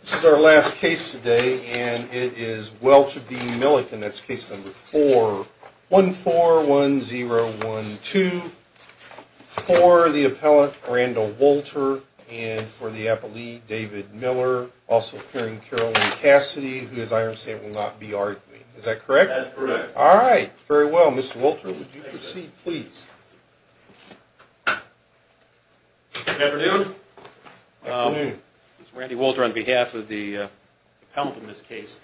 This is our last case today and it is Welch v. Millikin, that's case number 4141012, for the appellant Randall Wolter and for the appellee David Miller, also appearing Carolyn Cassidy, who as I understand will not be arguing. Is that correct? That's correct. Alright, very well. Mr. Wolter, would you proceed please? Good afternoon. This is Randy Wolter on behalf of the appellant in this case.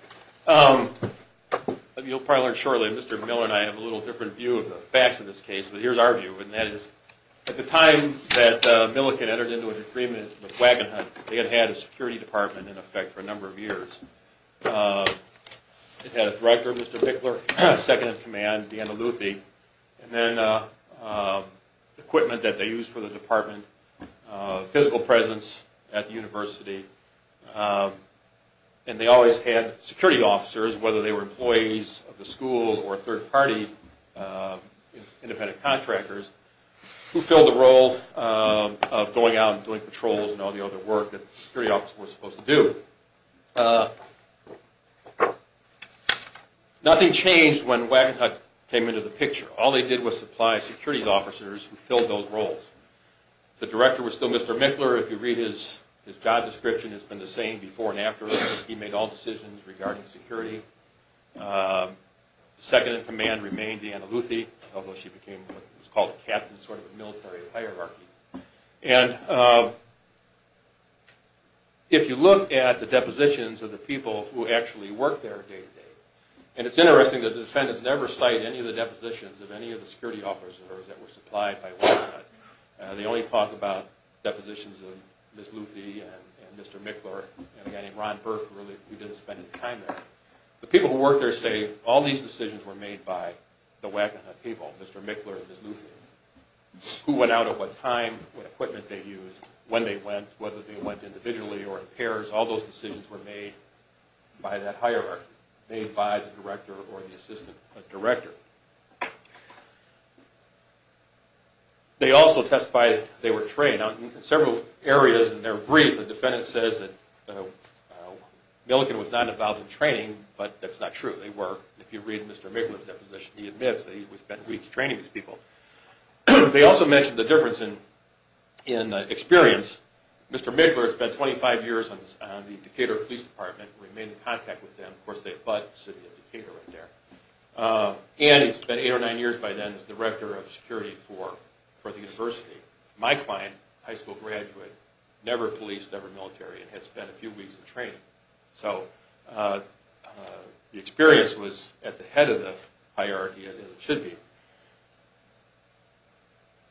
You'll probably learn shortly, Mr. Miller and I have a little different view of the facts in this case, but here's our view, and that is at the time that Millikin entered into an agreement with Wagonhut, they had had a security department in effect for a number of years. It had a director, Mr. Bickler, second-in-command, Deanna Luthi, and then equipment that they used for the department, physical presence at the university, and they always had security officers, whether they were employees of the school or third-party independent contractors, who filled the role of going out and doing patrols and all the other work that the security officer was supposed to do. Nothing changed when Wagonhut came into the picture. All they did was supply security officers who filled those roles. The director was still Mr. Bickler. If you read his job description, it's been the same before and after. He made all decisions regarding security. Second-in-command remained Deanna Luthi, although she became what was called a captain, sort of a military hierarchy. And if you look at the depositions of the people who actually worked there day-to-day, and it's interesting that the defendants never cite any of the depositions of any of the security officers that were supplied by Wagonhut. They only talk about depositions of Ms. Luthi and Mr. Bickler. The people who worked there say all these decisions were made by the Wagonhut people, Mr. Bickler and Ms. Luthi. Who went out at what time, what equipment they used, when they went, whether they went individually or in pairs, all those decisions were made by that hierarchy, made by the director or the assistant director. They also testify that they were trained. In several areas in their brief, the defendant says that Milligan was not involved in training, but that's not true. They were. If you read Mr. Bickler's deposition, he admits that he spent weeks training these people. They also mention the difference in experience. Mr. Bickler spent 25 years on the Decatur Police Department and remained in contact with them. Of course, they abut the city of Decatur right there. And he spent eight or nine years by then as director of security for the university. My client, a high school graduate, never policed, never military, and had spent a few weeks in training. So the experience was at the head of the hierarchy as it should be.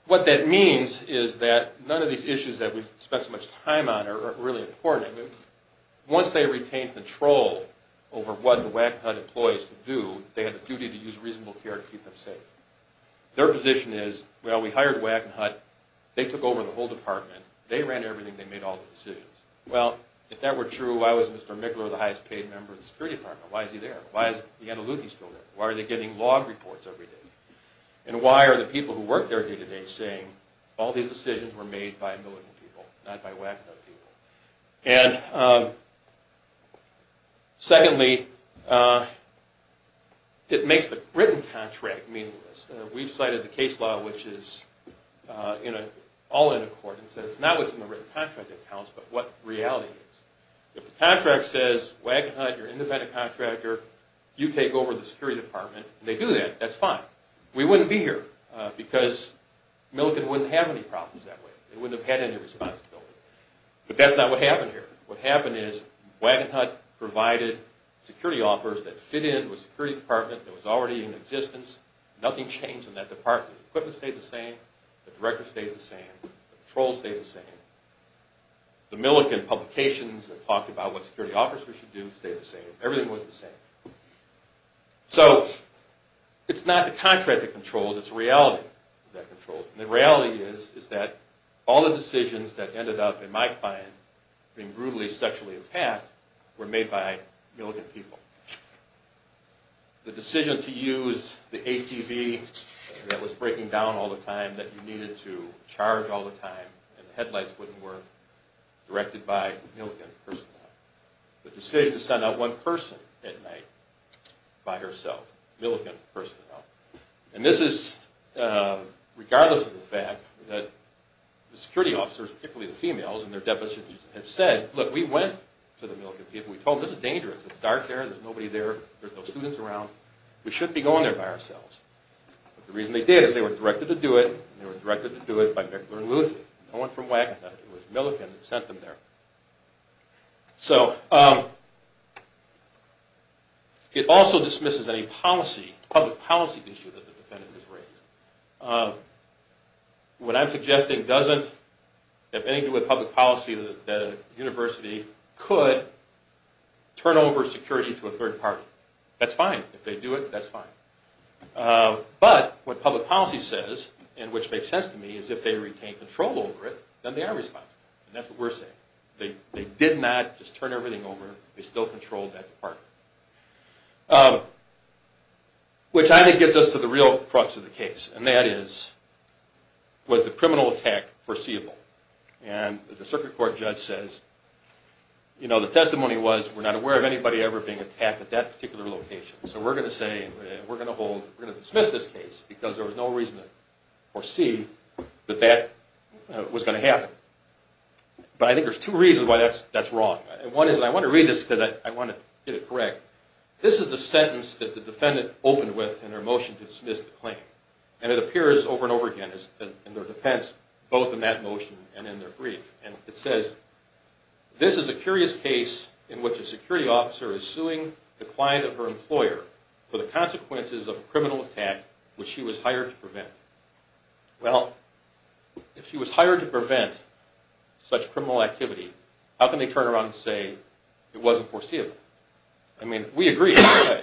What that means is that none of these issues that we've spent so much time on are really important. Once they retained control over what the Wackenhut employees could do, they had the duty to use reasonable care to keep them safe. Their position is, well, we hired Wackenhut, they took over the whole department, they ran everything, they made all the decisions. Well, if that were true, why was Mr. Bickler the highest paid member of the security department? Why is he there? Why is the Andalusian still there? Why are they getting log reports every day? And why are the people who work there day to day saying, all these decisions were made by Milligan people, not by Wackenhut people? And secondly, it makes the written contract meaningless. We've cited the case law, which is all in accordance. It's not what's in the written contract that counts, but what reality is. If the contract says, Wackenhut, you're an independent contractor, you take over the security department, and they do that, that's fine. We wouldn't be here, because Milligan wouldn't have any problems that way. They wouldn't have had any responsibility. But that's not what happened here. What happened is Wackenhut provided security offers that fit in with the security department that was already in existence. Nothing changed in that department. The equipment stayed the same, the director stayed the same, the patrols stayed the same, the Milligan publications that talked about what security officers should do stayed the same, everything was the same. So it's not the contract that controls, it's reality that controls. And the reality is that all the decisions that ended up, in my find, being brutally sexually attacked were made by Milligan people. The decision to use the ATV that was breaking down all the time, that you needed to charge all the time, and the headlights wouldn't work, directed by Milligan personnel. The decision to send out one person at night by herself, Milligan personnel. And this is regardless of the fact that the security officers, particularly the females, and their deputies had said, look, we went to the Milligan people, we told them this is dangerous, it's dark there, there's nobody there, there's no students around, we shouldn't be going there by ourselves. The reason they did is they were directed to do it, and they were directed to do it by Mickler and Luther, no one from WAC, it was Milligan that sent them there. So, it also dismisses any policy, public policy issue that the defendant has raised. What I'm suggesting doesn't, if anything with public policy, that a university could turn over security to a third party. That's fine, if they do it, that's fine. But, what public policy says, and which makes sense to me, is if they retain control over it, then they are responsible. And that's what we're saying. They did not just turn everything over, they still controlled that department. Which I think gets us to the real crux of the case, and that is, was the criminal attack foreseeable? And the circuit court judge says, you know, the testimony was, we're not aware of anybody ever being attacked at that particular location. So we're going to say, we're going to hold, we're going to dismiss this case, because there was no reason to foresee that that was going to happen. But I think there's two reasons why that's wrong. One is, and I want to read this because I want to get it correct. This is the sentence that the defendant opened with in her motion to dismiss the claim. And it appears over and over again in their defense, both in that motion and in their brief. And it says, this is a curious case in which a security officer is suing the client of her employer for the consequences of a criminal attack which she was hired to prevent. Well, if she was hired to prevent such criminal activity, how can they turn around and say it wasn't foreseeable? I mean, we agree that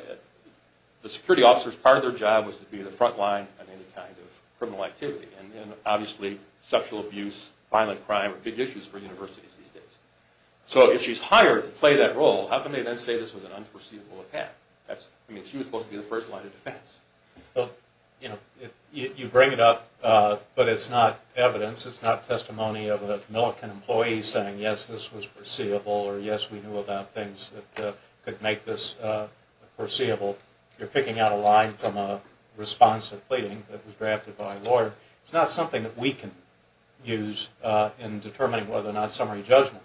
the security officers, part of their job was to be the front line of any kind of criminal activity. And obviously, sexual abuse, violent crime are big issues for universities these days. So if she's hired to play that role, how can they then say this was an unforeseeable attack? I mean, she was supposed to be the first line of defense. You know, you bring it up, but it's not evidence. It's not testimony of a Millikan employee saying, yes, this was foreseeable, or yes, we knew about things that could make this foreseeable. You're picking out a line from a response of pleading that was drafted by a lawyer. It's not something that we can use in determining whether or not summary judgment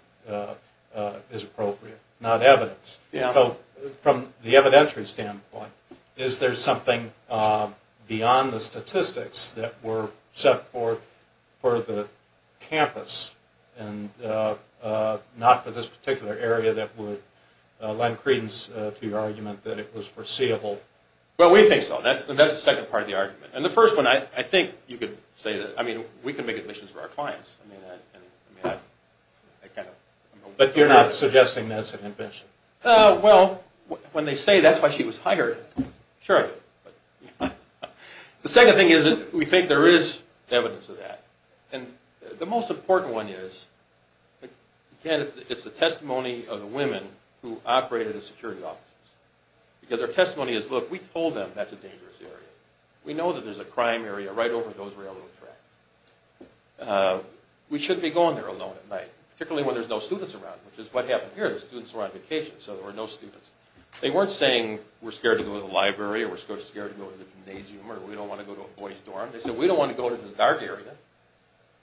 is appropriate. Not evidence. So from the evidentiary standpoint, is there something beyond the statistics that were set forth for the campus and not for this particular area that would lend credence to your argument that it was foreseeable? Well, we think so, and that's the second part of the argument. And the first one, I think you could say that, I mean, we can make admissions for our clients. But you're not suggesting that's an invention? Well, when they say that's why she was hired, sure. The second thing is that we think there is evidence of that. And the most important one is, again, it's the testimony of the women who operated the security offices. Because their testimony is, look, we told them that's a dangerous area. We know that there's a crime area right over those railroad tracks. We shouldn't be going there alone at night. Particularly when there's no students around, which is what happened here. The students were on vacation, so there were no students. They weren't saying, we're scared to go to the library, or we're scared to go to the gymnasium, or we don't want to go to a boys dorm. They said, we don't want to go to this dark area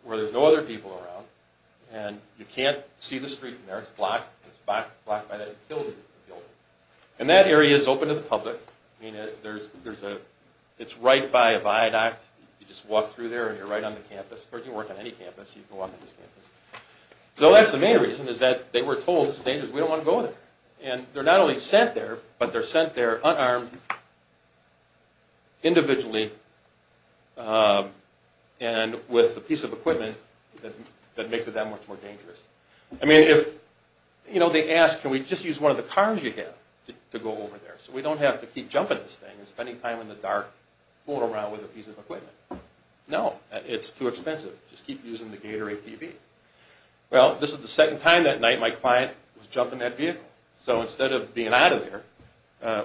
where there's no other people around, and you can't see the street from there. And that area is open to the public. It's right by a viaduct. You just walk through there, and you're right on the campus. Or you can walk on any campus. You can walk on this campus. So that's the main reason, is that they were told it's dangerous. We don't want to go there. And they're not only sent there, but they're sent there unarmed, individually, and with a piece of equipment that makes it that much more dangerous. I mean, they ask, can we just use one of the cars you have to go over there? So we don't have to keep jumping this thing and spending time in the dark, fooling around with a piece of equipment. No, it's too expensive. Just keep using the Gator ATV. Well, this is the second time that night my client was jumping that vehicle. So instead of being out of there,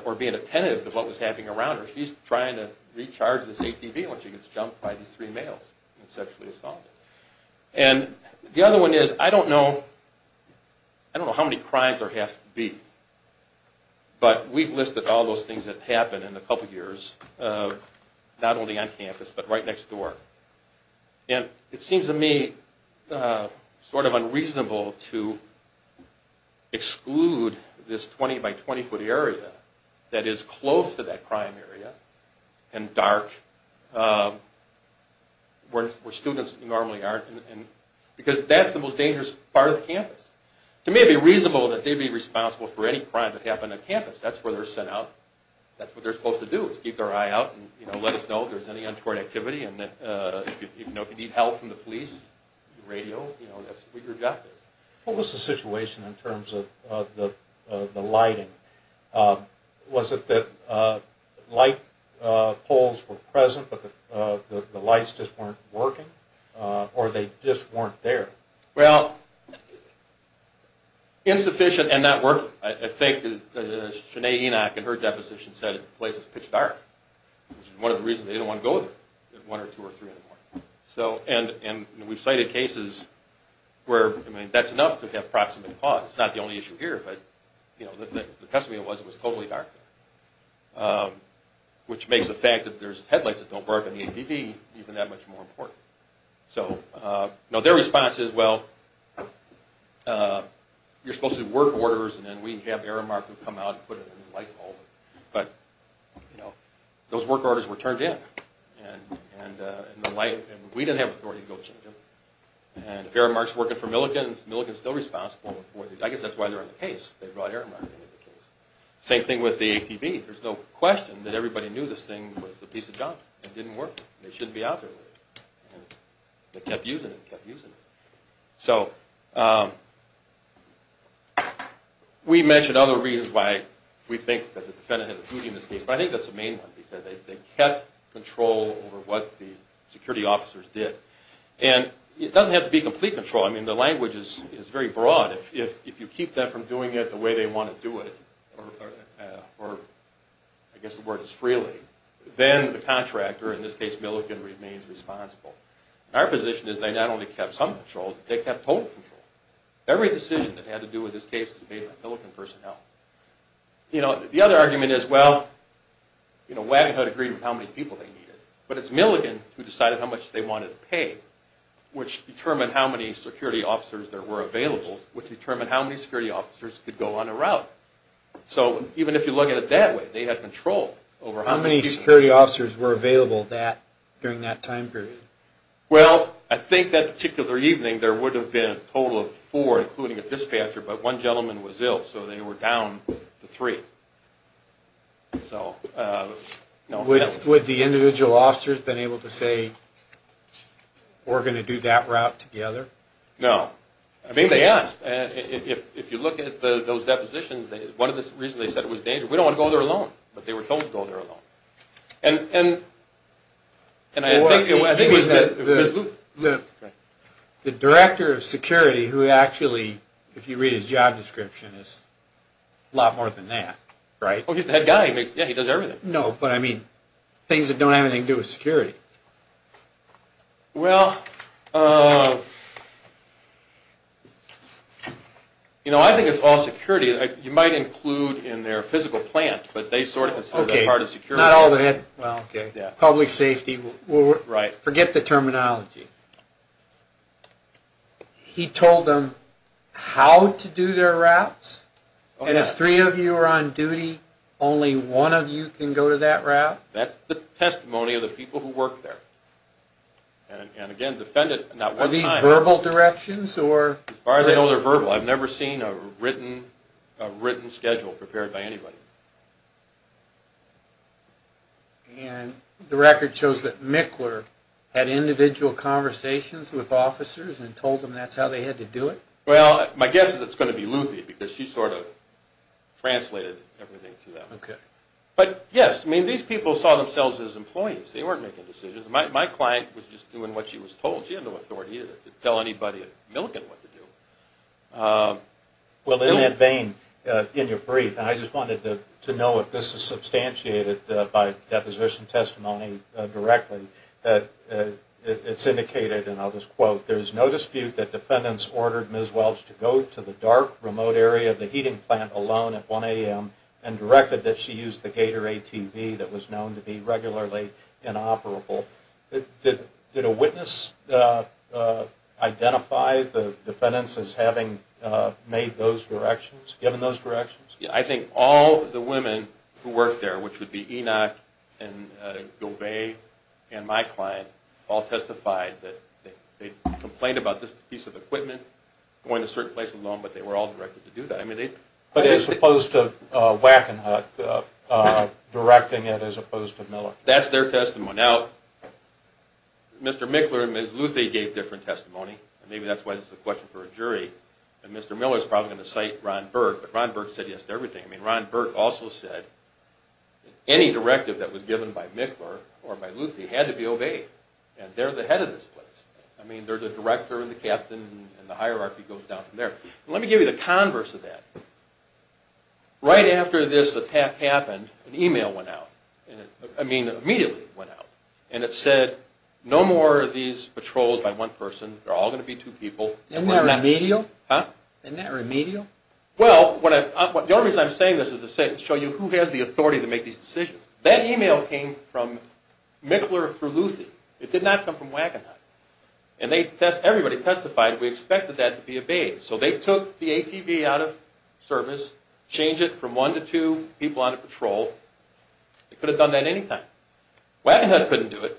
or being attentive to what was happening around her, she's trying to recharge this ATV when she gets jumped by these three males and sexually assaulted. And the other one is, I don't know how many crimes there has to be, but we've listed all those things that happen in a couple years, not only on campus, but right next door. And it seems to me sort of unreasonable to exclude this 20-by-20-foot area that is close to that crime area, and dark, where students normally aren't. To me, it would be reasonable that they'd be responsible for any crime that happened on campus. That's where they're sent out. That's what they're supposed to do, is keep their eye out, and let us know if there's any untoward activity. And if you need help from the police, radio, we've got this. What was the situation in terms of the lighting? Was it that light poles were present, but the lights just weren't working? Or they just weren't there? Well, insufficient and not working. I think, as Shanae Enoch in her deposition said, the place is pitch dark, which is one of the reasons they don't want to go there, one or two or three in the morning. And we've cited cases where that's enough to have proximate cause. It's not the only issue here, but the testimony was it was totally dark there, which makes the fact that there's headlights that don't work and the APD even that much more important. So their response is, well, you're supposed to do work orders, and then we have Aramark come out and put a light pole. But those work orders were turned in, and we didn't have authority to go change them. And if Aramark's working for Milligan, Milligan's still responsible. I guess that's why they're on the case. They brought Aramark into the case. Same thing with the ATV. There's no question that everybody knew this thing was a piece of junk. It didn't work. They shouldn't be out there with it. They kept using it and kept using it. So we mentioned other reasons why we think that the defendant had a duty in this case, but I think that's the main one, because they kept control over what the security officers did. And it doesn't have to be complete control. I mean, the language is very broad. If you keep them from doing it the way they want to do it, or I guess the word is freely, then the contractor, in this case Milligan, remains responsible. Our position is they not only kept some control, they kept total control. Every decision that had to do with this case was made by Milligan personnel. The other argument is, well, Wagon Hood agreed with how many people they needed, but it's Milligan who decided how much they wanted to pay, which determined how many security officers there were available, which determined how many security officers could go on a route. So even if you look at it that way, they had control over how many people. How many security officers were available during that time period? Well, I think that particular evening there would have been a total of four, including a dispatcher, but one gentleman was ill, so they were down to three. Would the individual officers have been able to say, we're going to do that route together? No. I mean, they asked. If you look at those depositions, one of the reasons they said it was dangerous, we don't want to go there alone, but they were told to go there alone. The director of security, who actually, if you read his job description, is a lot more than that, right? Oh, he's the head guy. He does everything. No, but I mean, things that don't have anything to do with security. Well, you know, I think it's all security. You might include in their physical plant, but they sort of consider that part of security. Okay, not all of it. Public safety, forget the terminology. He told them how to do their routes, and if three of you are on duty, only one of you can go to that route? That's the testimony of the people who work there. Are these verbal directions? As far as I know, they're verbal. I've never seen a written schedule prepared by anybody. And the record shows that Mickler had individual conversations with officers and told them that's how they had to do it? Well, my guess is it's going to be Luthi, because she sort of translated everything to them. But yes, I mean, these people saw themselves as employees. They weren't making decisions. My client was just doing what she was told. She had no authority to tell anybody at Milligan what to do. Well, in that vein, in your brief, and I just wanted to know if this is substantiated by deposition testimony directly, that it's indicated, and I'll just quote, there's no dispute that defendants ordered Ms. Welch to go to the dark, remote area of the heating plant alone at 1 a.m. and directed that she use the Gator ATV that was known to be regularly inoperable. Did a witness identify the defendants as having made those directions, given those directions? I think all the women who worked there, which would be Enoch and Govay and my client, all testified that they complained about this piece of equipment going to a certain place alone, but they were all directed to do that. But as opposed to Wackenhut directing it as opposed to Miller? That's their testimony. Now, Mr. Michler and Ms. Luthie gave different testimony, and maybe that's why this is a question for a jury, and Mr. Miller's probably going to cite Ron Burke, but Ron Burke said yes to everything. I mean, Ron Burke also said any directive that was given by Michler or by Luthie had to be obeyed, and they're the head of this place. I mean, they're the director and the captain, and the hierarchy goes down from there. Let me give you the converse of that. Right after this attack happened, an email went out. I mean, immediately went out, and it said no more of these patrols by one person. They're all going to be two people. Isn't that remedial? Huh? Isn't that remedial? Well, the only reason I'm saying this is to show you who has the authority to make these decisions. That email came from Michler through Luthie. It did not come from Wackenhut, and everybody testified we expected that to be obeyed, so they took the ATV out of service, changed it from one to two people on a patrol. They could have done that any time. Wackenhut couldn't do it.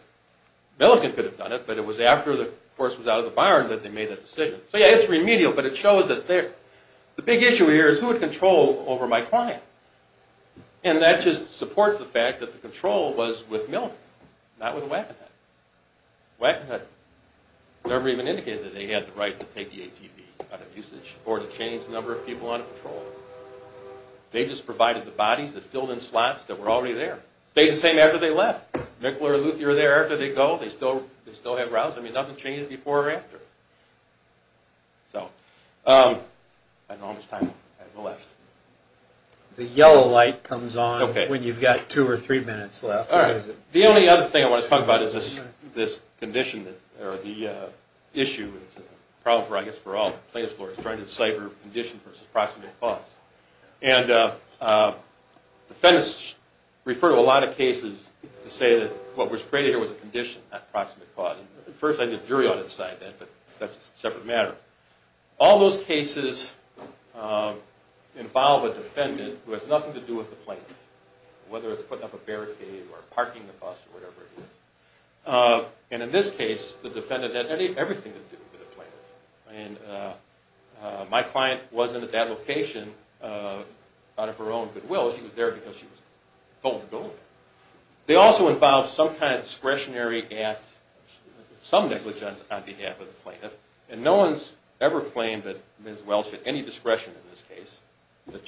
Millican could have done it, but it was after the force was out of the barn that they made that decision. So, yeah, it's remedial, but it shows that the big issue here is who had control over my client, and that just supports the fact that the control was with Miller, not with Wackenhut. Wackenhut never even indicated that they had the right to take the ATV out of usage or to change the number of people on a patrol. They just provided the bodies that filled in slots that were already there. Stayed the same after they left. Michler and Luthie are there after they go. They still have routes. I mean, nothing changes before or after. So, I don't know how much time I have left. The yellow light comes on when you've got two or three minutes left. All right. The only other thing I want to talk about is this condition, or the issue, and it's a problem, I guess, for all plaintiffs lawyers, trying to decipher condition versus proximate cause. And defendants refer to a lot of cases to say that what was created here was a condition, not proximate cause. At first, I had a jury on its side, but that's a separate matter. All those cases involve a defendant who has nothing to do with the plaintiff, whether it's putting up a barricade or parking the bus or whatever it is. And in this case, the defendant had everything to do with the plaintiff. And my client wasn't at that location out of her own goodwill. She was there because she was told to go there. They also involve some kind of discretionary act, some negligence on behalf of the plaintiff, and no one's ever claimed that Ms. Welch had any discretion in this case, that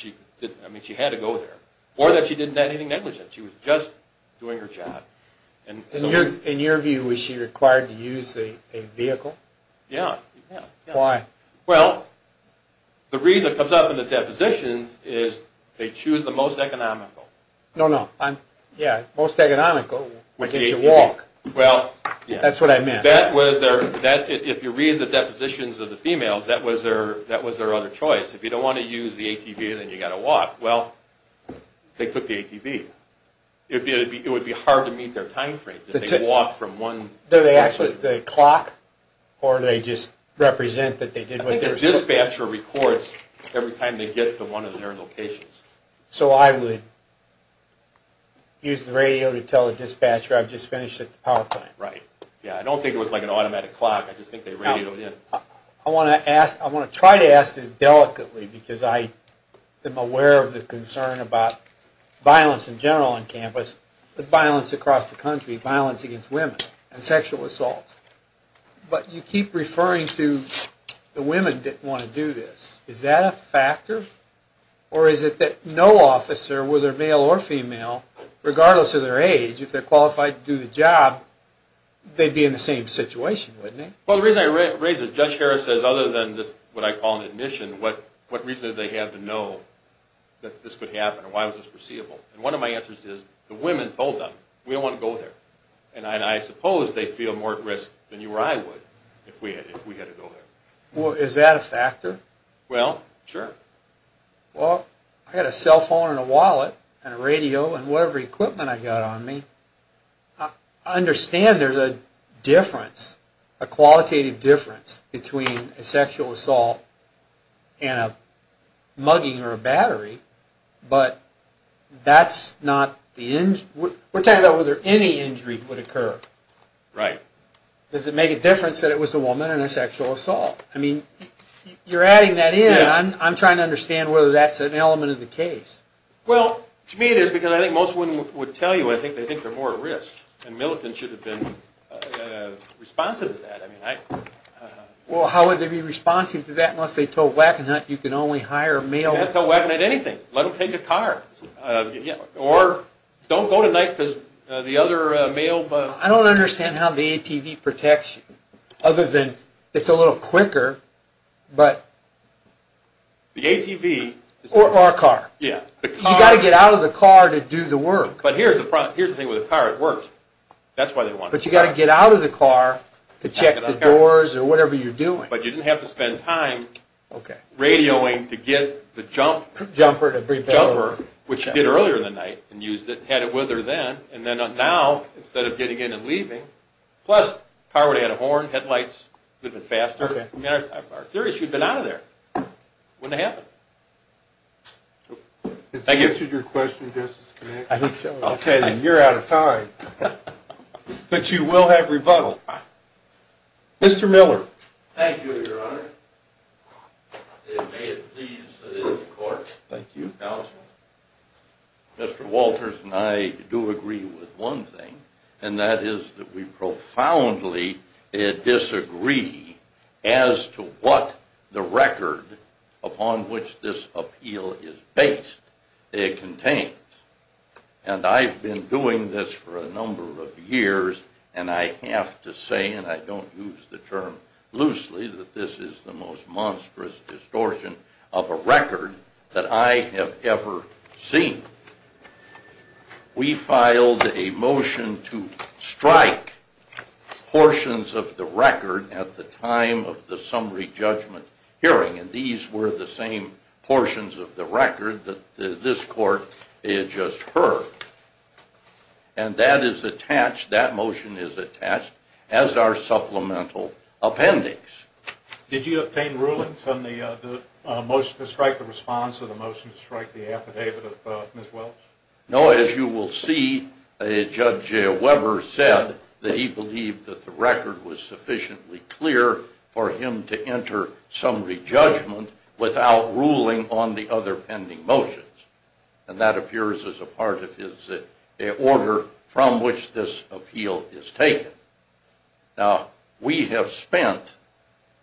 she had to go there, or that she didn't have anything negligent. She was just doing her job. In your view, was she required to use a vehicle? Yeah. Why? Well, the reason it comes up in the depositions is they choose the most economical. No, no. Yeah, most economical, which is a walk. Well, yeah. That's what I meant. If you read the depositions of the females, that was their other choice. If you don't want to use the ATV, then you've got to walk. Well, they took the ATV. It would be hard to meet their time frame. Did they walk from one place? Did they actually, did they clock? Or did they just represent that they did what they were supposed to? I think the dispatcher records every time they get to one of their locations. So I would use the radio to tell the dispatcher I've just finished at the power plant. Right. Yeah, I don't think it was like an automatic clock. I just think they radioed in. I want to try to ask this delicately because I am aware of the concern about violence in general on campus, but violence across the country, violence against women and sexual assault. But you keep referring to the women didn't want to do this. Is that a factor? Or is it that no officer, whether male or female, regardless of their age, if they're qualified to do the job, they'd be in the same situation, wouldn't they? Well, the reason I raise this, Judge Harris says other than what I call an admission, what reason do they have to know that this could happen and why was this foreseeable? And one of my answers is the women told them, we don't want to go there. And I suppose they feel more at risk than you or I would if we had to go there. Well, is that a factor? Well, sure. Well, I've got a cell phone and a wallet and a radio and whatever equipment I've got on me. I understand there's a difference, a qualitative difference, between a sexual assault and a mugging or a battery, but that's not the injury. We're talking about whether any injury would occur. Right. Does it make a difference that it was a woman and a sexual assault? I mean, you're adding that in. I'm trying to understand whether that's an element of the case. Well, to me it is, because I think most women would tell you they think they're more at risk, and militants should have been responsive to that. Well, how would they be responsive to that unless they told Wackenhut you can only hire a male? You can't tell Wackenhut anything. Let him take a car. Or don't go tonight because the other male. I don't understand how the ATV protects you, other than it's a little quicker. The ATV. Or a car. Yeah. You've got to get out of the car to do the work. But here's the thing with a car. It works. That's why they want it. But you've got to get out of the car to check the doors or whatever you're doing. But you didn't have to spend time radioing to get the jumper, which you did earlier in the night and used it and had it with her then, and then now, instead of getting in and leaving, plus the car would have had a horn, headlights, it would have been faster. I'm serious. You'd have been out of there. It wouldn't have happened. Has that answered your question, Justice Connelly? I think so. Okay, then you're out of time. But you will have rebuttal. Mr. Miller. Thank you, Your Honor. And may it please the court. Thank you. Counsel. Mr. Walters and I do agree with one thing, and that is that we profoundly disagree as to what the record upon which this appeal is based contains. And I've been doing this for a number of years, and I have to say, and I don't use the term loosely, that this is the most monstrous distortion of a record that I have ever seen. We filed a motion to strike portions of the record at the time of the summary judgment hearing, and these were the same portions of the record that this court just heard. And that is attached, that motion is attached, as are supplemental appendix. Did you obtain rulings on the motion to strike the response or the motion to strike the affidavit of Ms. Welch? No, as you will see, Judge Weber said that he believed that the record was sufficiently clear for him to enter summary judgment without ruling on the other pending motions. And that appears as a part of his order from which this appeal is taken. Now, we have spent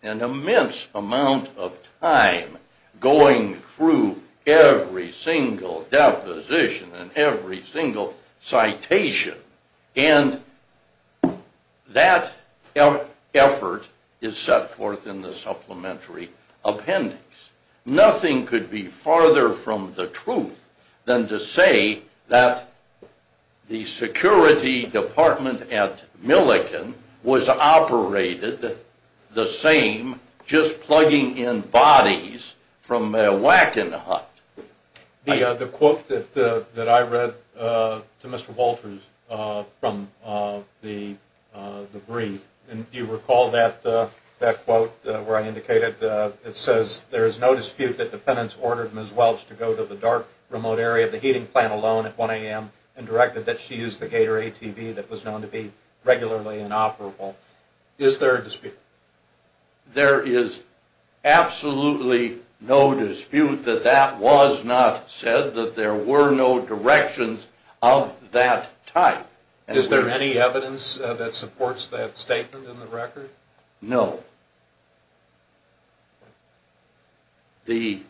an immense amount of time going through every single deposition and every single citation, and that effort is set forth in the supplementary appendix. Nothing could be farther from the truth than to say that the security department at Millikan was operated the same, just plugging in bodies from Wackenhut. The quote that I read to Mr. Walters from the brief, and do you recall that quote where I indicated it says, there is no dispute that defendants ordered Ms. Welch to go to the dark, remote area of the heating plant alone at 1 a.m. and directed that she use the Gator ATV that was known to be regularly inoperable. Is there a dispute? There is absolutely no dispute that that was not said, that there were no directions of that type. Is there any evidence that supports that statement in the record? No. The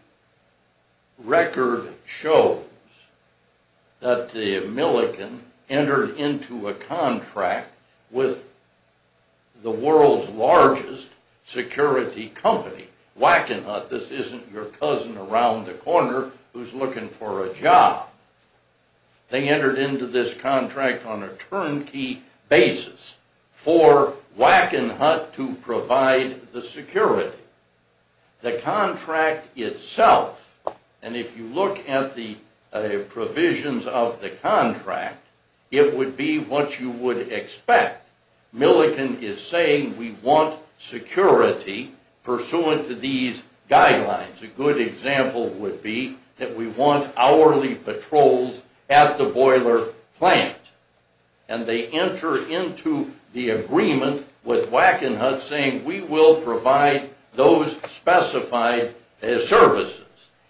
record shows that the Millikan entered into a contract with the world's largest security company, Wackenhut. This isn't your cousin around the corner who's looking for a job. They entered into this contract on a turnkey basis for Wackenhut to provide the security. The contract itself, and if you look at the provisions of the contract, it would be what you would expect. Millikan is saying we want security pursuant to these guidelines. A good example would be that we want hourly patrols at the boiler plant. And they enter into the agreement with Wackenhut saying we will provide those specified services.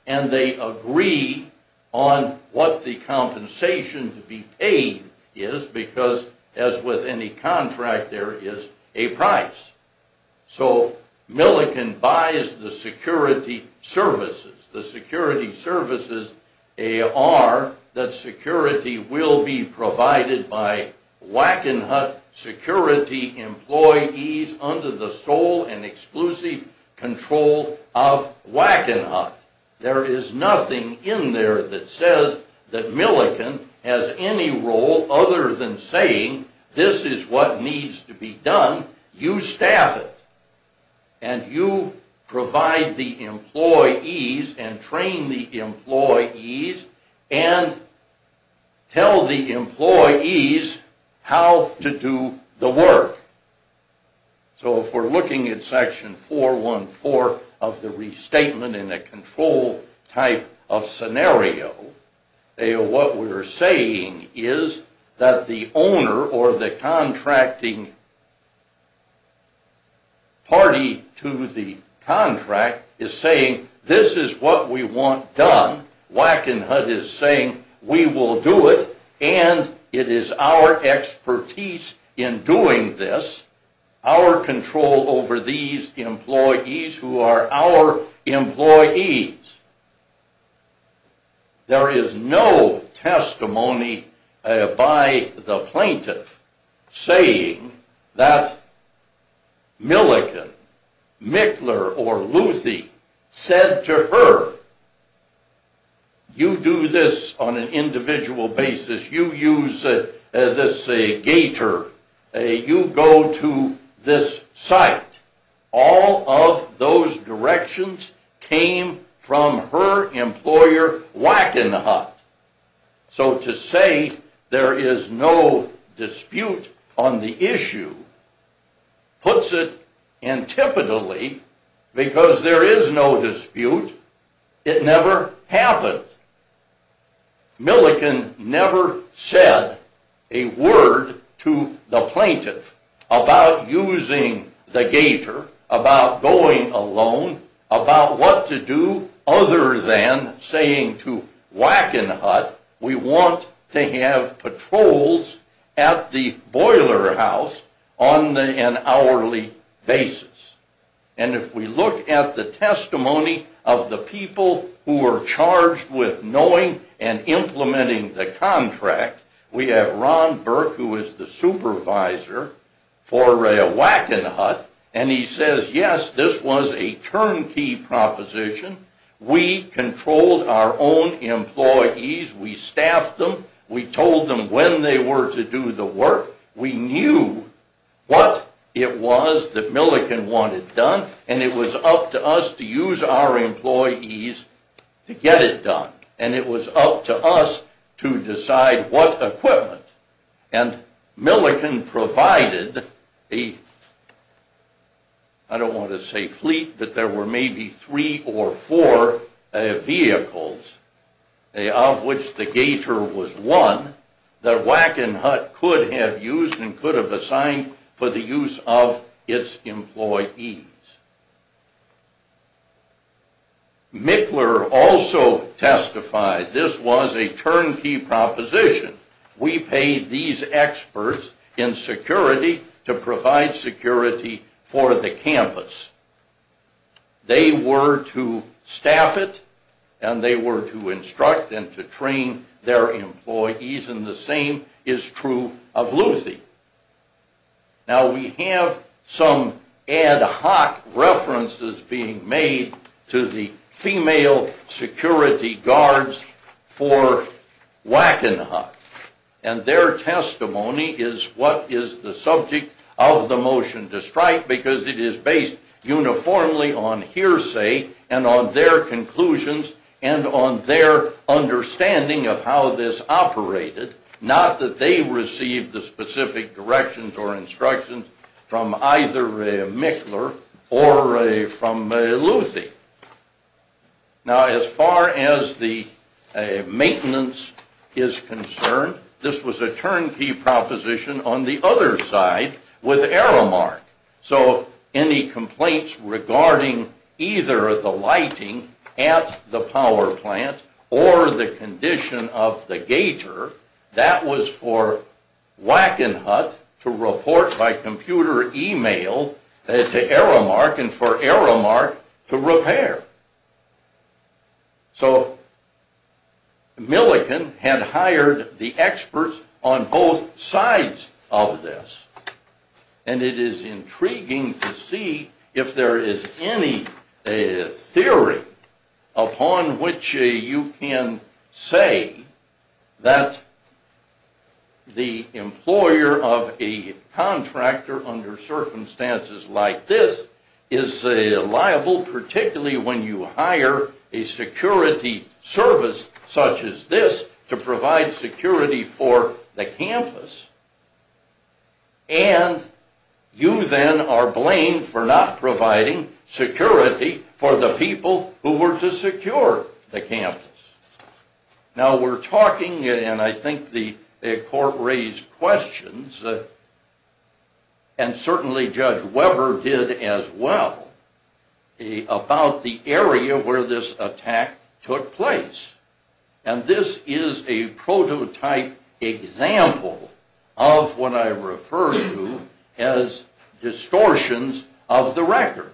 And they agree on what the compensation to be paid is because, as with any contract, there is a price. So Millikan buys the security services. The security services are that security will be provided by Wackenhut security employees under the sole and exclusive control of Wackenhut. There is nothing in there that says that Millikan has any role other than saying this is what needs to be done. You staff it. And you provide the employees and train the employees and tell the employees how to do the work. So if we're looking at section 414 of the restatement in a control type of scenario, what we're saying is that the owner or the contracting party to the contract is saying this is what we want done. Wackenhut is saying we will do it. And it is our expertise in doing this, our control over these employees who are our employees. There is no testimony by the plaintiff saying that Millikan, Michler, or Luthi said to her, You do this on an individual basis. You use this gator. You go to this site. All of those directions came from her employer, Wackenhut. So to say there is no dispute on the issue puts it antipodally because there is no dispute. It never happened. Millikan never said a word to the plaintiff about using the gator, about going alone, about what to do other than saying to Wackenhut, We want to have patrols at the boiler house on an hourly basis. And if we look at the testimony of the people who were charged with knowing and implementing the contract, we have Ron Burke, who is the supervisor for Wackenhut, and he says, Yes, this was a turnkey proposition. We controlled our own employees. We staffed them. We told them when they were to do the work. We knew what it was that Millikan wanted done, and it was up to us to use our employees to get it done. And it was up to us to decide what equipment. And Millikan provided a, I don't want to say fleet, but there were maybe three or four vehicles of which the gator was one, that Wackenhut could have used and could have assigned for the use of its employees. Michler also testified this was a turnkey proposition. We paid these experts in security to provide security for the campus. They were to staff it, and they were to instruct and to train their employees, and the same is true of Luthi. Now, we have some ad hoc references being made to the female security guards for Wackenhut, and their testimony is what is the subject of the motion to strike, because it is based uniformly on hearsay and on their conclusions and on their understanding of how this operated, not that they received the specific directions or instructions from either Michler or from Luthi. Now, as far as the maintenance is concerned, this was a turnkey proposition on the other side with Aramark. So any complaints regarding either the lighting at the power plant or the condition of the gator, that was for Wackenhut to report by computer email to Aramark and for Aramark to repair. So Millikan had hired the experts on both sides of this, and it is intriguing to see if there is any theory upon which you can say that the employer of a contractor under circumstances like this is liable, particularly when you hire a security service such as this to provide security for the campus, and you then are blamed for not providing security for the people who were to secure the campus. Now we're talking, and I think the court raised questions, and certainly Judge Weber did as well, about the area where this attack took place. And this is a prototype example of what I refer to as distortions of the record.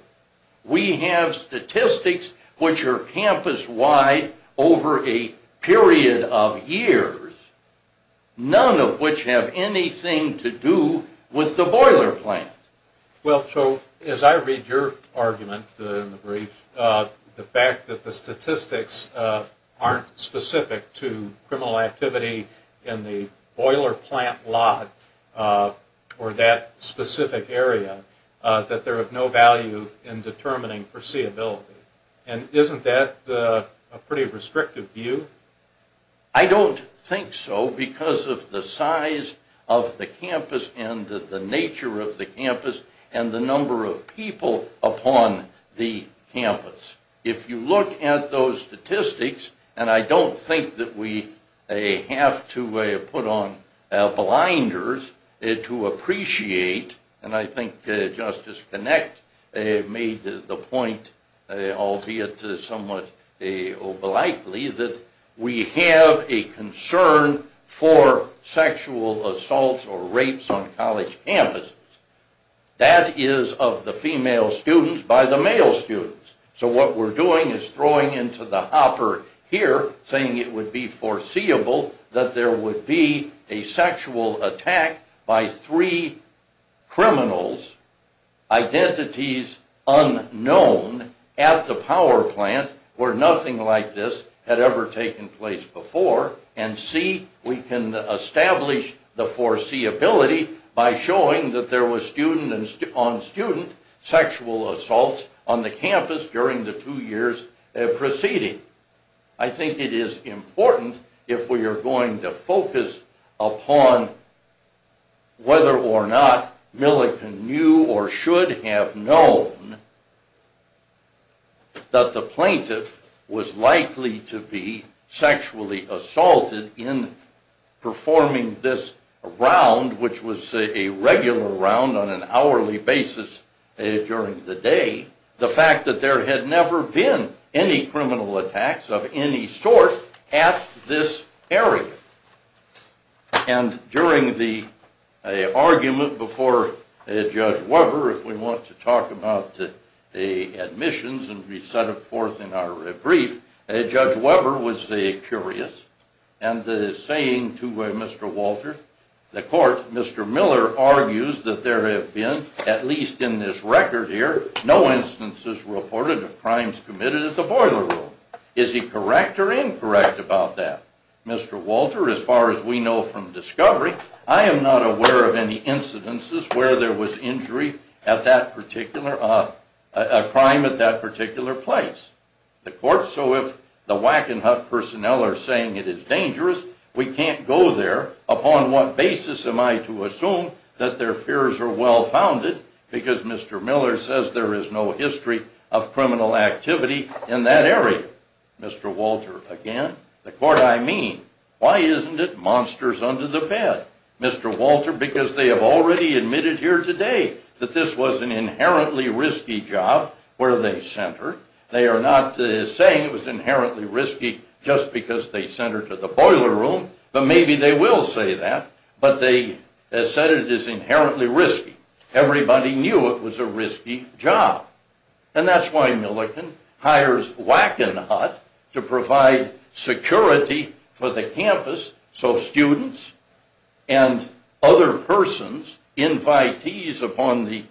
We have statistics which are campus-wide over a period of years, none of which have anything to do with the boiler plant. Well, so as I read your argument in the brief, the fact that the statistics aren't specific to criminal activity in the boiler plant lot or that specific area, that they're of no value in determining foreseeability. And isn't that a pretty restrictive view? I don't think so because of the size of the campus and the nature of the campus and the number of people upon the campus. If you look at those statistics, and I don't think that we have to put on blinders to appreciate, and I think Justice Kinect made the point, albeit somewhat over-likely, that we have a concern for sexual assaults or rapes on college campuses. That is of the female students by the male students. So what we're doing is throwing into the hopper here, saying it would be foreseeable that there would be a sexual attack by three criminals, identities unknown, at the power plant where nothing like this had ever taken place before. And C, we can establish the foreseeability by showing that there was student-on-student sexual assaults on the campus during the two years preceding. I think it is important, if we are going to focus upon whether or not Millikan knew or should have known that the plaintiff was likely to be sexually assaulted in performing this round, which was a regular round on an hourly basis during the day, the fact that there had never been any criminal attacks of any sort at this area. And during the argument before Judge Weber, if we want to talk about the admissions and we set it forth in our brief, Judge Weber was curious and is saying to Mr. Walter, the court, Mr. Miller argues that there have been, at least in this record here, no instances reported of crimes committed at the boiler room. Is he correct or incorrect about that? Mr. Walter, as far as we know from discovery, I am not aware of any incidences where there was injury at that particular, a crime at that particular place. The court, so if the Wackenhut personnel are saying it is dangerous, we can't go there. Upon what basis am I to assume that their fears are well-founded? Because Mr. Miller says there is no history of criminal activity in that area. Mr. Walter, again, the court, I mean, why isn't it monsters under the bed? Mr. Walter, because they have already admitted here today that this was an inherently risky job where they sent her. They are not saying it was inherently risky just because they sent her to the boiler room, but maybe they will say that. But they have said it is inherently risky. Everybody knew it was a risky job. And that's why Milliken hires Wackenhut to provide security for the campus so students and other persons, invitees upon the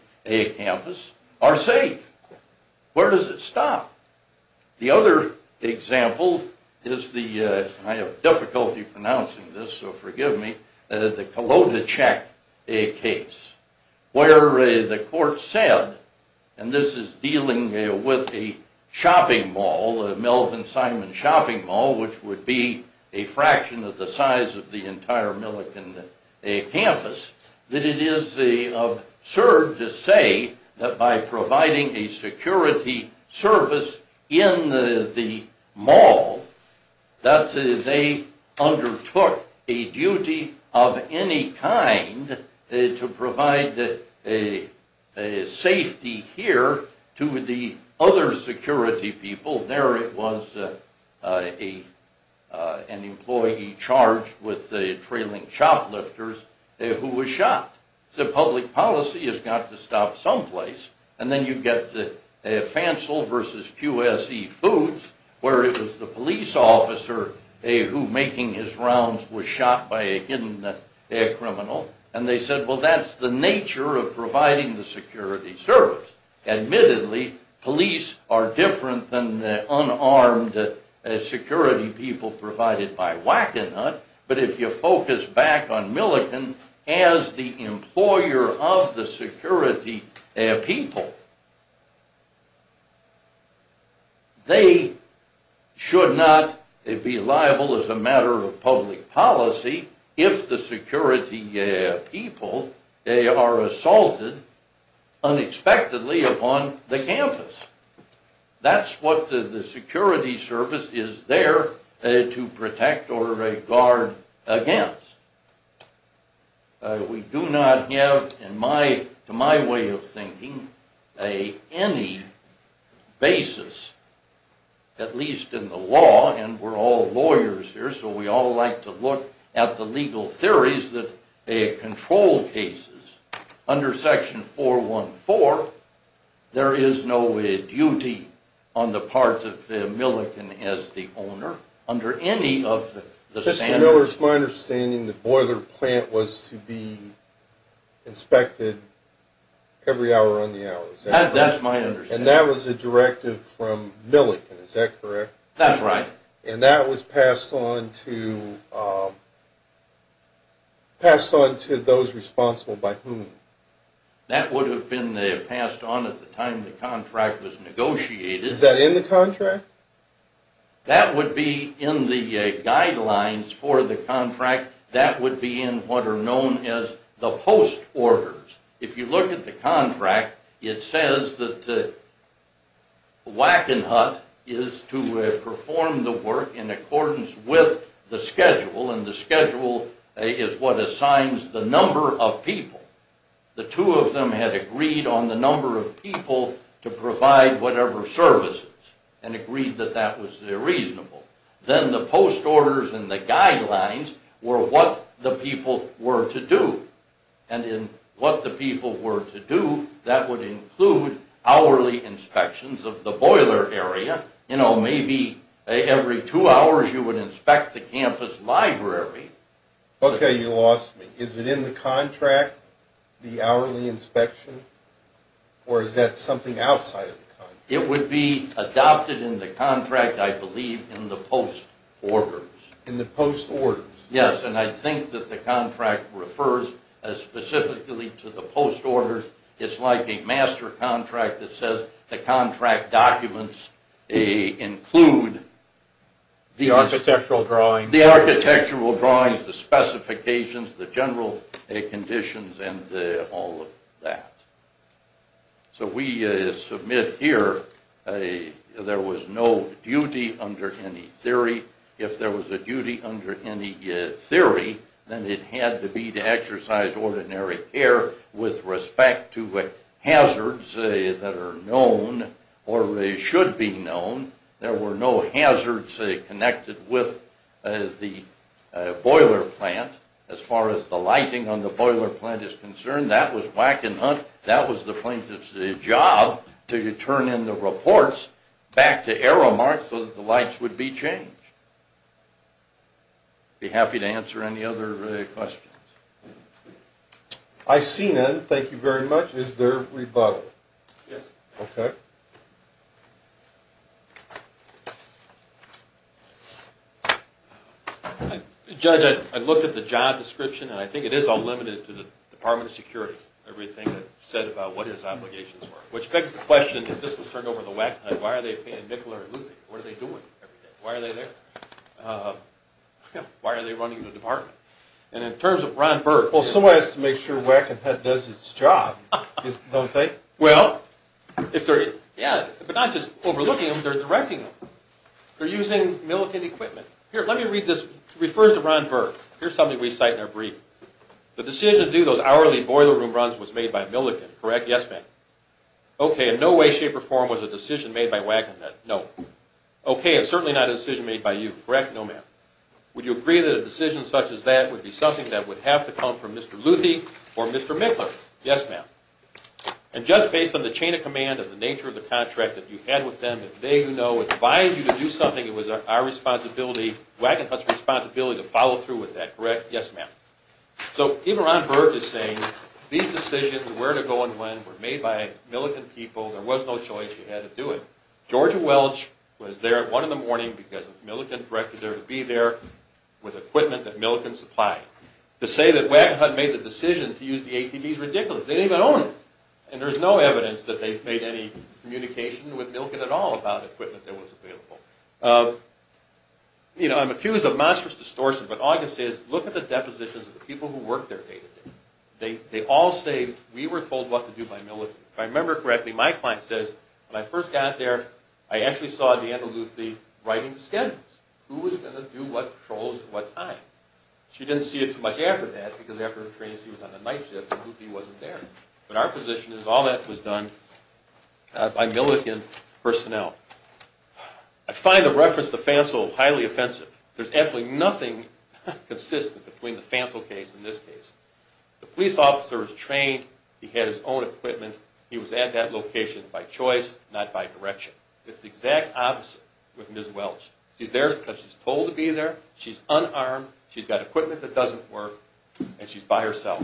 campus, are safe. Where does it stop? The other example is the, I have difficulty pronouncing this, so forgive me, the Kolodichek case. Where the court said, and this is dealing with a shopping mall, a Melvin Simon shopping mall, which would be a fraction of the size of the entire Milliken campus, that it is absurd to say that by providing a security service in the mall that they undertook a duty of any kind to provide safety here to the other security people. There it was an employee charged with trailing shoplifters who was shot. The public policy has got to stop someplace. And then you get Fancel versus QSE Foods where it was the police officer who making his rounds was shot by a hidden criminal. And they said, well, that's the nature of providing the security service. Admittedly, police are different than the unarmed security people provided by Wackenhut, but if you focus back on Milliken as the employer of the security people, they should not be liable as a matter of public policy if the security people are assaulted unexpectedly upon the campus. That's what the security service is there to protect or guard against. We do not have, in my way of thinking, any basis, at least in the law, and we're all lawyers here, so we all like to look at the legal theories that control cases. Under Section 414, there is no duty on the part of the Milliken as the owner under any of the standards. Mr. Miller, it's my understanding the boiler plant was to be inspected every hour on the hour, is that correct? That's my understanding. And that was a directive from Milliken, is that correct? That's right. And that was passed on to those responsible by whom? That would have been passed on at the time the contract was negotiated. Is that in the contract? That would be in the guidelines for the contract. That would be in what are known as the post orders. If you look at the contract, it says that Wackenhut is to perform the work in accordance with the schedule, and the schedule is what assigns the number of people. The two of them had agreed on the number of people to provide whatever services, and agreed that that was reasonable. Then the post orders and the guidelines were what the people were to do. And in what the people were to do, that would include hourly inspections of the boiler area. You know, maybe every two hours you would inspect the campus library. Okay, you lost me. Is it in the contract, the hourly inspection, or is that something outside of the contract? It would be adopted in the contract, I believe, in the post orders. In the post orders? Yes, and I think that the contract refers specifically to the post orders. It's like a master contract that says the contract documents include the architectural drawings, the specifications, the general conditions, and all of that. So we submit here there was no duty under any theory. If there was a duty under any theory, then it had to be to exercise ordinary care with respect to hazards that are known or should be known. There were no hazards connected with the boiler plant as far as the lighting on the boiler plant is concerned. That was the plaintiff's job to turn in the reports back to Aramark so that the lights would be changed. I'd be happy to answer any other questions. I see none. Thank you very much. Is there rebuttal? Yes. Okay. Judge, I looked at the job description, and I think it is unlimited to the Department of Security, everything that's said about what his obligations were, which begs the question, if this was turned over to WAC and HUD, why are they paying Nicola or Lucy? What are they doing every day? Why are they there? Why are they running the department? And in terms of Ron Burke... Well, somebody has to make sure WAC and HUD does its job, don't they? Well, if they're... Yeah, but not just overlooking them, they're directing them. They're using Millican equipment. Here, let me read this. It refers to Ron Burke. Here's something we cite in our briefing. The decision to do those hourly boiler room runs was made by Millican, correct? Yes, ma'am. Okay, and no way, shape, or form was a decision made by WAC and HUD? No. Okay, and certainly not a decision made by you, correct? No, ma'am. Would you agree that a decision such as that would be something that would have to come from Mr. Luthi or Mr. Mickler? Yes, ma'am. And just based on the chain of command and the nature of the contract that you had with them, that they who know advised you to do something, it was our responsibility, WAC and HUD's responsibility, to follow through with that, correct? Yes, ma'am. So even Ron Burke is saying these decisions, where to go and when, were made by Millican people. There was no choice. You had to do it. Georgia Welch was there at 1 in the morning because Millican directed her to be there with equipment that Millican supplied. To say that WAC and HUD made the decision to use the ATV is ridiculous. They didn't even own it. And there's no evidence that they've made any communication with Millican at all about equipment that was available. You know, I'm accused of monstrous distortion, but all I can say is look at the depositions of the people who work there day to day. They all say, we were told what to do by Millican. If I remember correctly, my client says, when I first got there, I actually saw Deanna Luthi writing the schedules. Who was going to do what patrols at what time? She didn't see it so much after that because after the training she was on a night shift and Luthi wasn't there. But our position is all that was done by Millican personnel. I find the reference to Fancel highly offensive. There's absolutely nothing consistent between the Fancel case and this case. The police officer was trained. He had his own equipment. He was at that location by choice, not by direction. It's the exact opposite with Ms. Welch. She's there because she's told to be there. She's unarmed. She's got equipment that doesn't work, and she's by herself.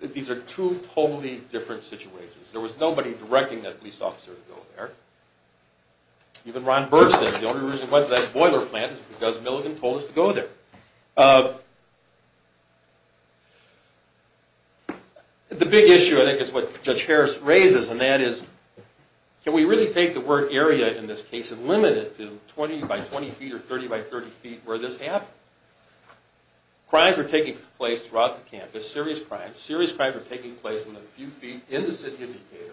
These are two totally different situations. There was nobody directing that police officer to go there. Even Ron Bergson, the only reason he went to that boiler plant is because Millican told us to go there. The big issue, I think, is what Judge Harris raises, and that is can we really take the work area in this case and limit it to 20 by 20 feet or 30 by 30 feet where this happened? Crimes are taking place throughout the campus, serious crimes. Serious crimes are taking place within a few feet in the city of Decatur.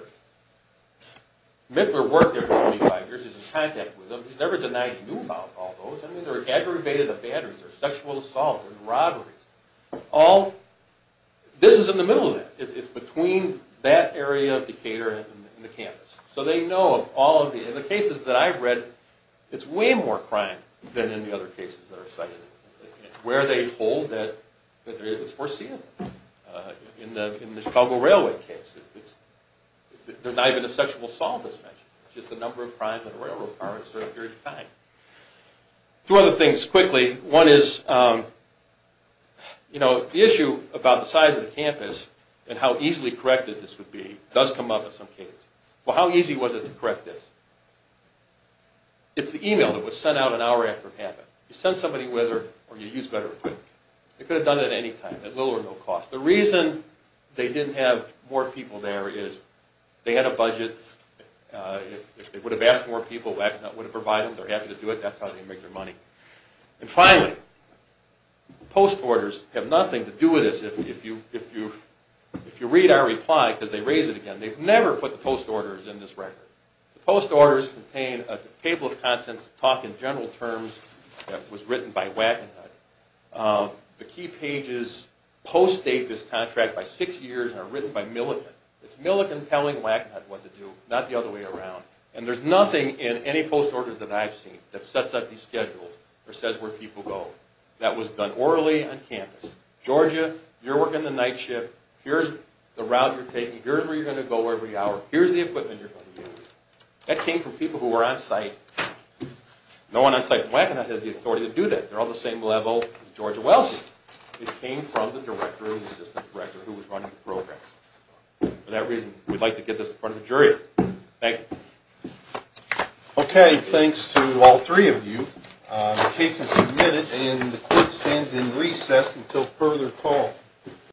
Mittler worked there for 25 years. He's in contact with them. He's never denied he knew about all those. There were aggravated abandons. There were sexual assaults and robberies. This is in the middle of that. It's between that area of Decatur and the campus. So they know of all of these. In the cases that I've read, it's way more crime than in the other cases that are cited. It's where they hold that it's foreseen. In the Chicago Railway case, there's not even a sexual assault that's mentioned. It's just the number of crimes in a railroad car in a certain period of time. Two other things quickly. One is the issue about the size of the campus and how easily corrected this would be does come up in some cases. Well, how easy was it to correct this? It's the email that was sent out an hour after it happened. You send somebody with it or you use better equipment. They could have done it at any time, at little or no cost. The reason they didn't have more people there is they had a budget. If they would have asked more people, Wagonhut would have provided them. They're happy to do it. That's how they make their money. And finally, post orders have nothing to do with this. If you read our reply, because they raise it again, they've never put the post orders in this record. The post orders contain a table of contents, a talk in general terms that was written by Wagonhut. The key pages post-date this contract by six years and are written by Millikan. It's Millikan telling Wagonhut what to do, not the other way around. And there's nothing in any post order that I've seen that sets up these schedules or says where people go. That was done orally on campus. Georgia, you're working the night shift. Here's the route you're taking. Here's where you're going to go every hour. Here's the equipment you're going to use. That came from people who were on site. No one on site from Wagonhut has the authority to do that. They're all the same level as Georgia Welch's. It came from the director and assistant director who was running the program. For that reason, we'd like to get this in front of a jury. Thank you. Okay, thanks to all three of you. The case is submitted and the court stands in recess until further call.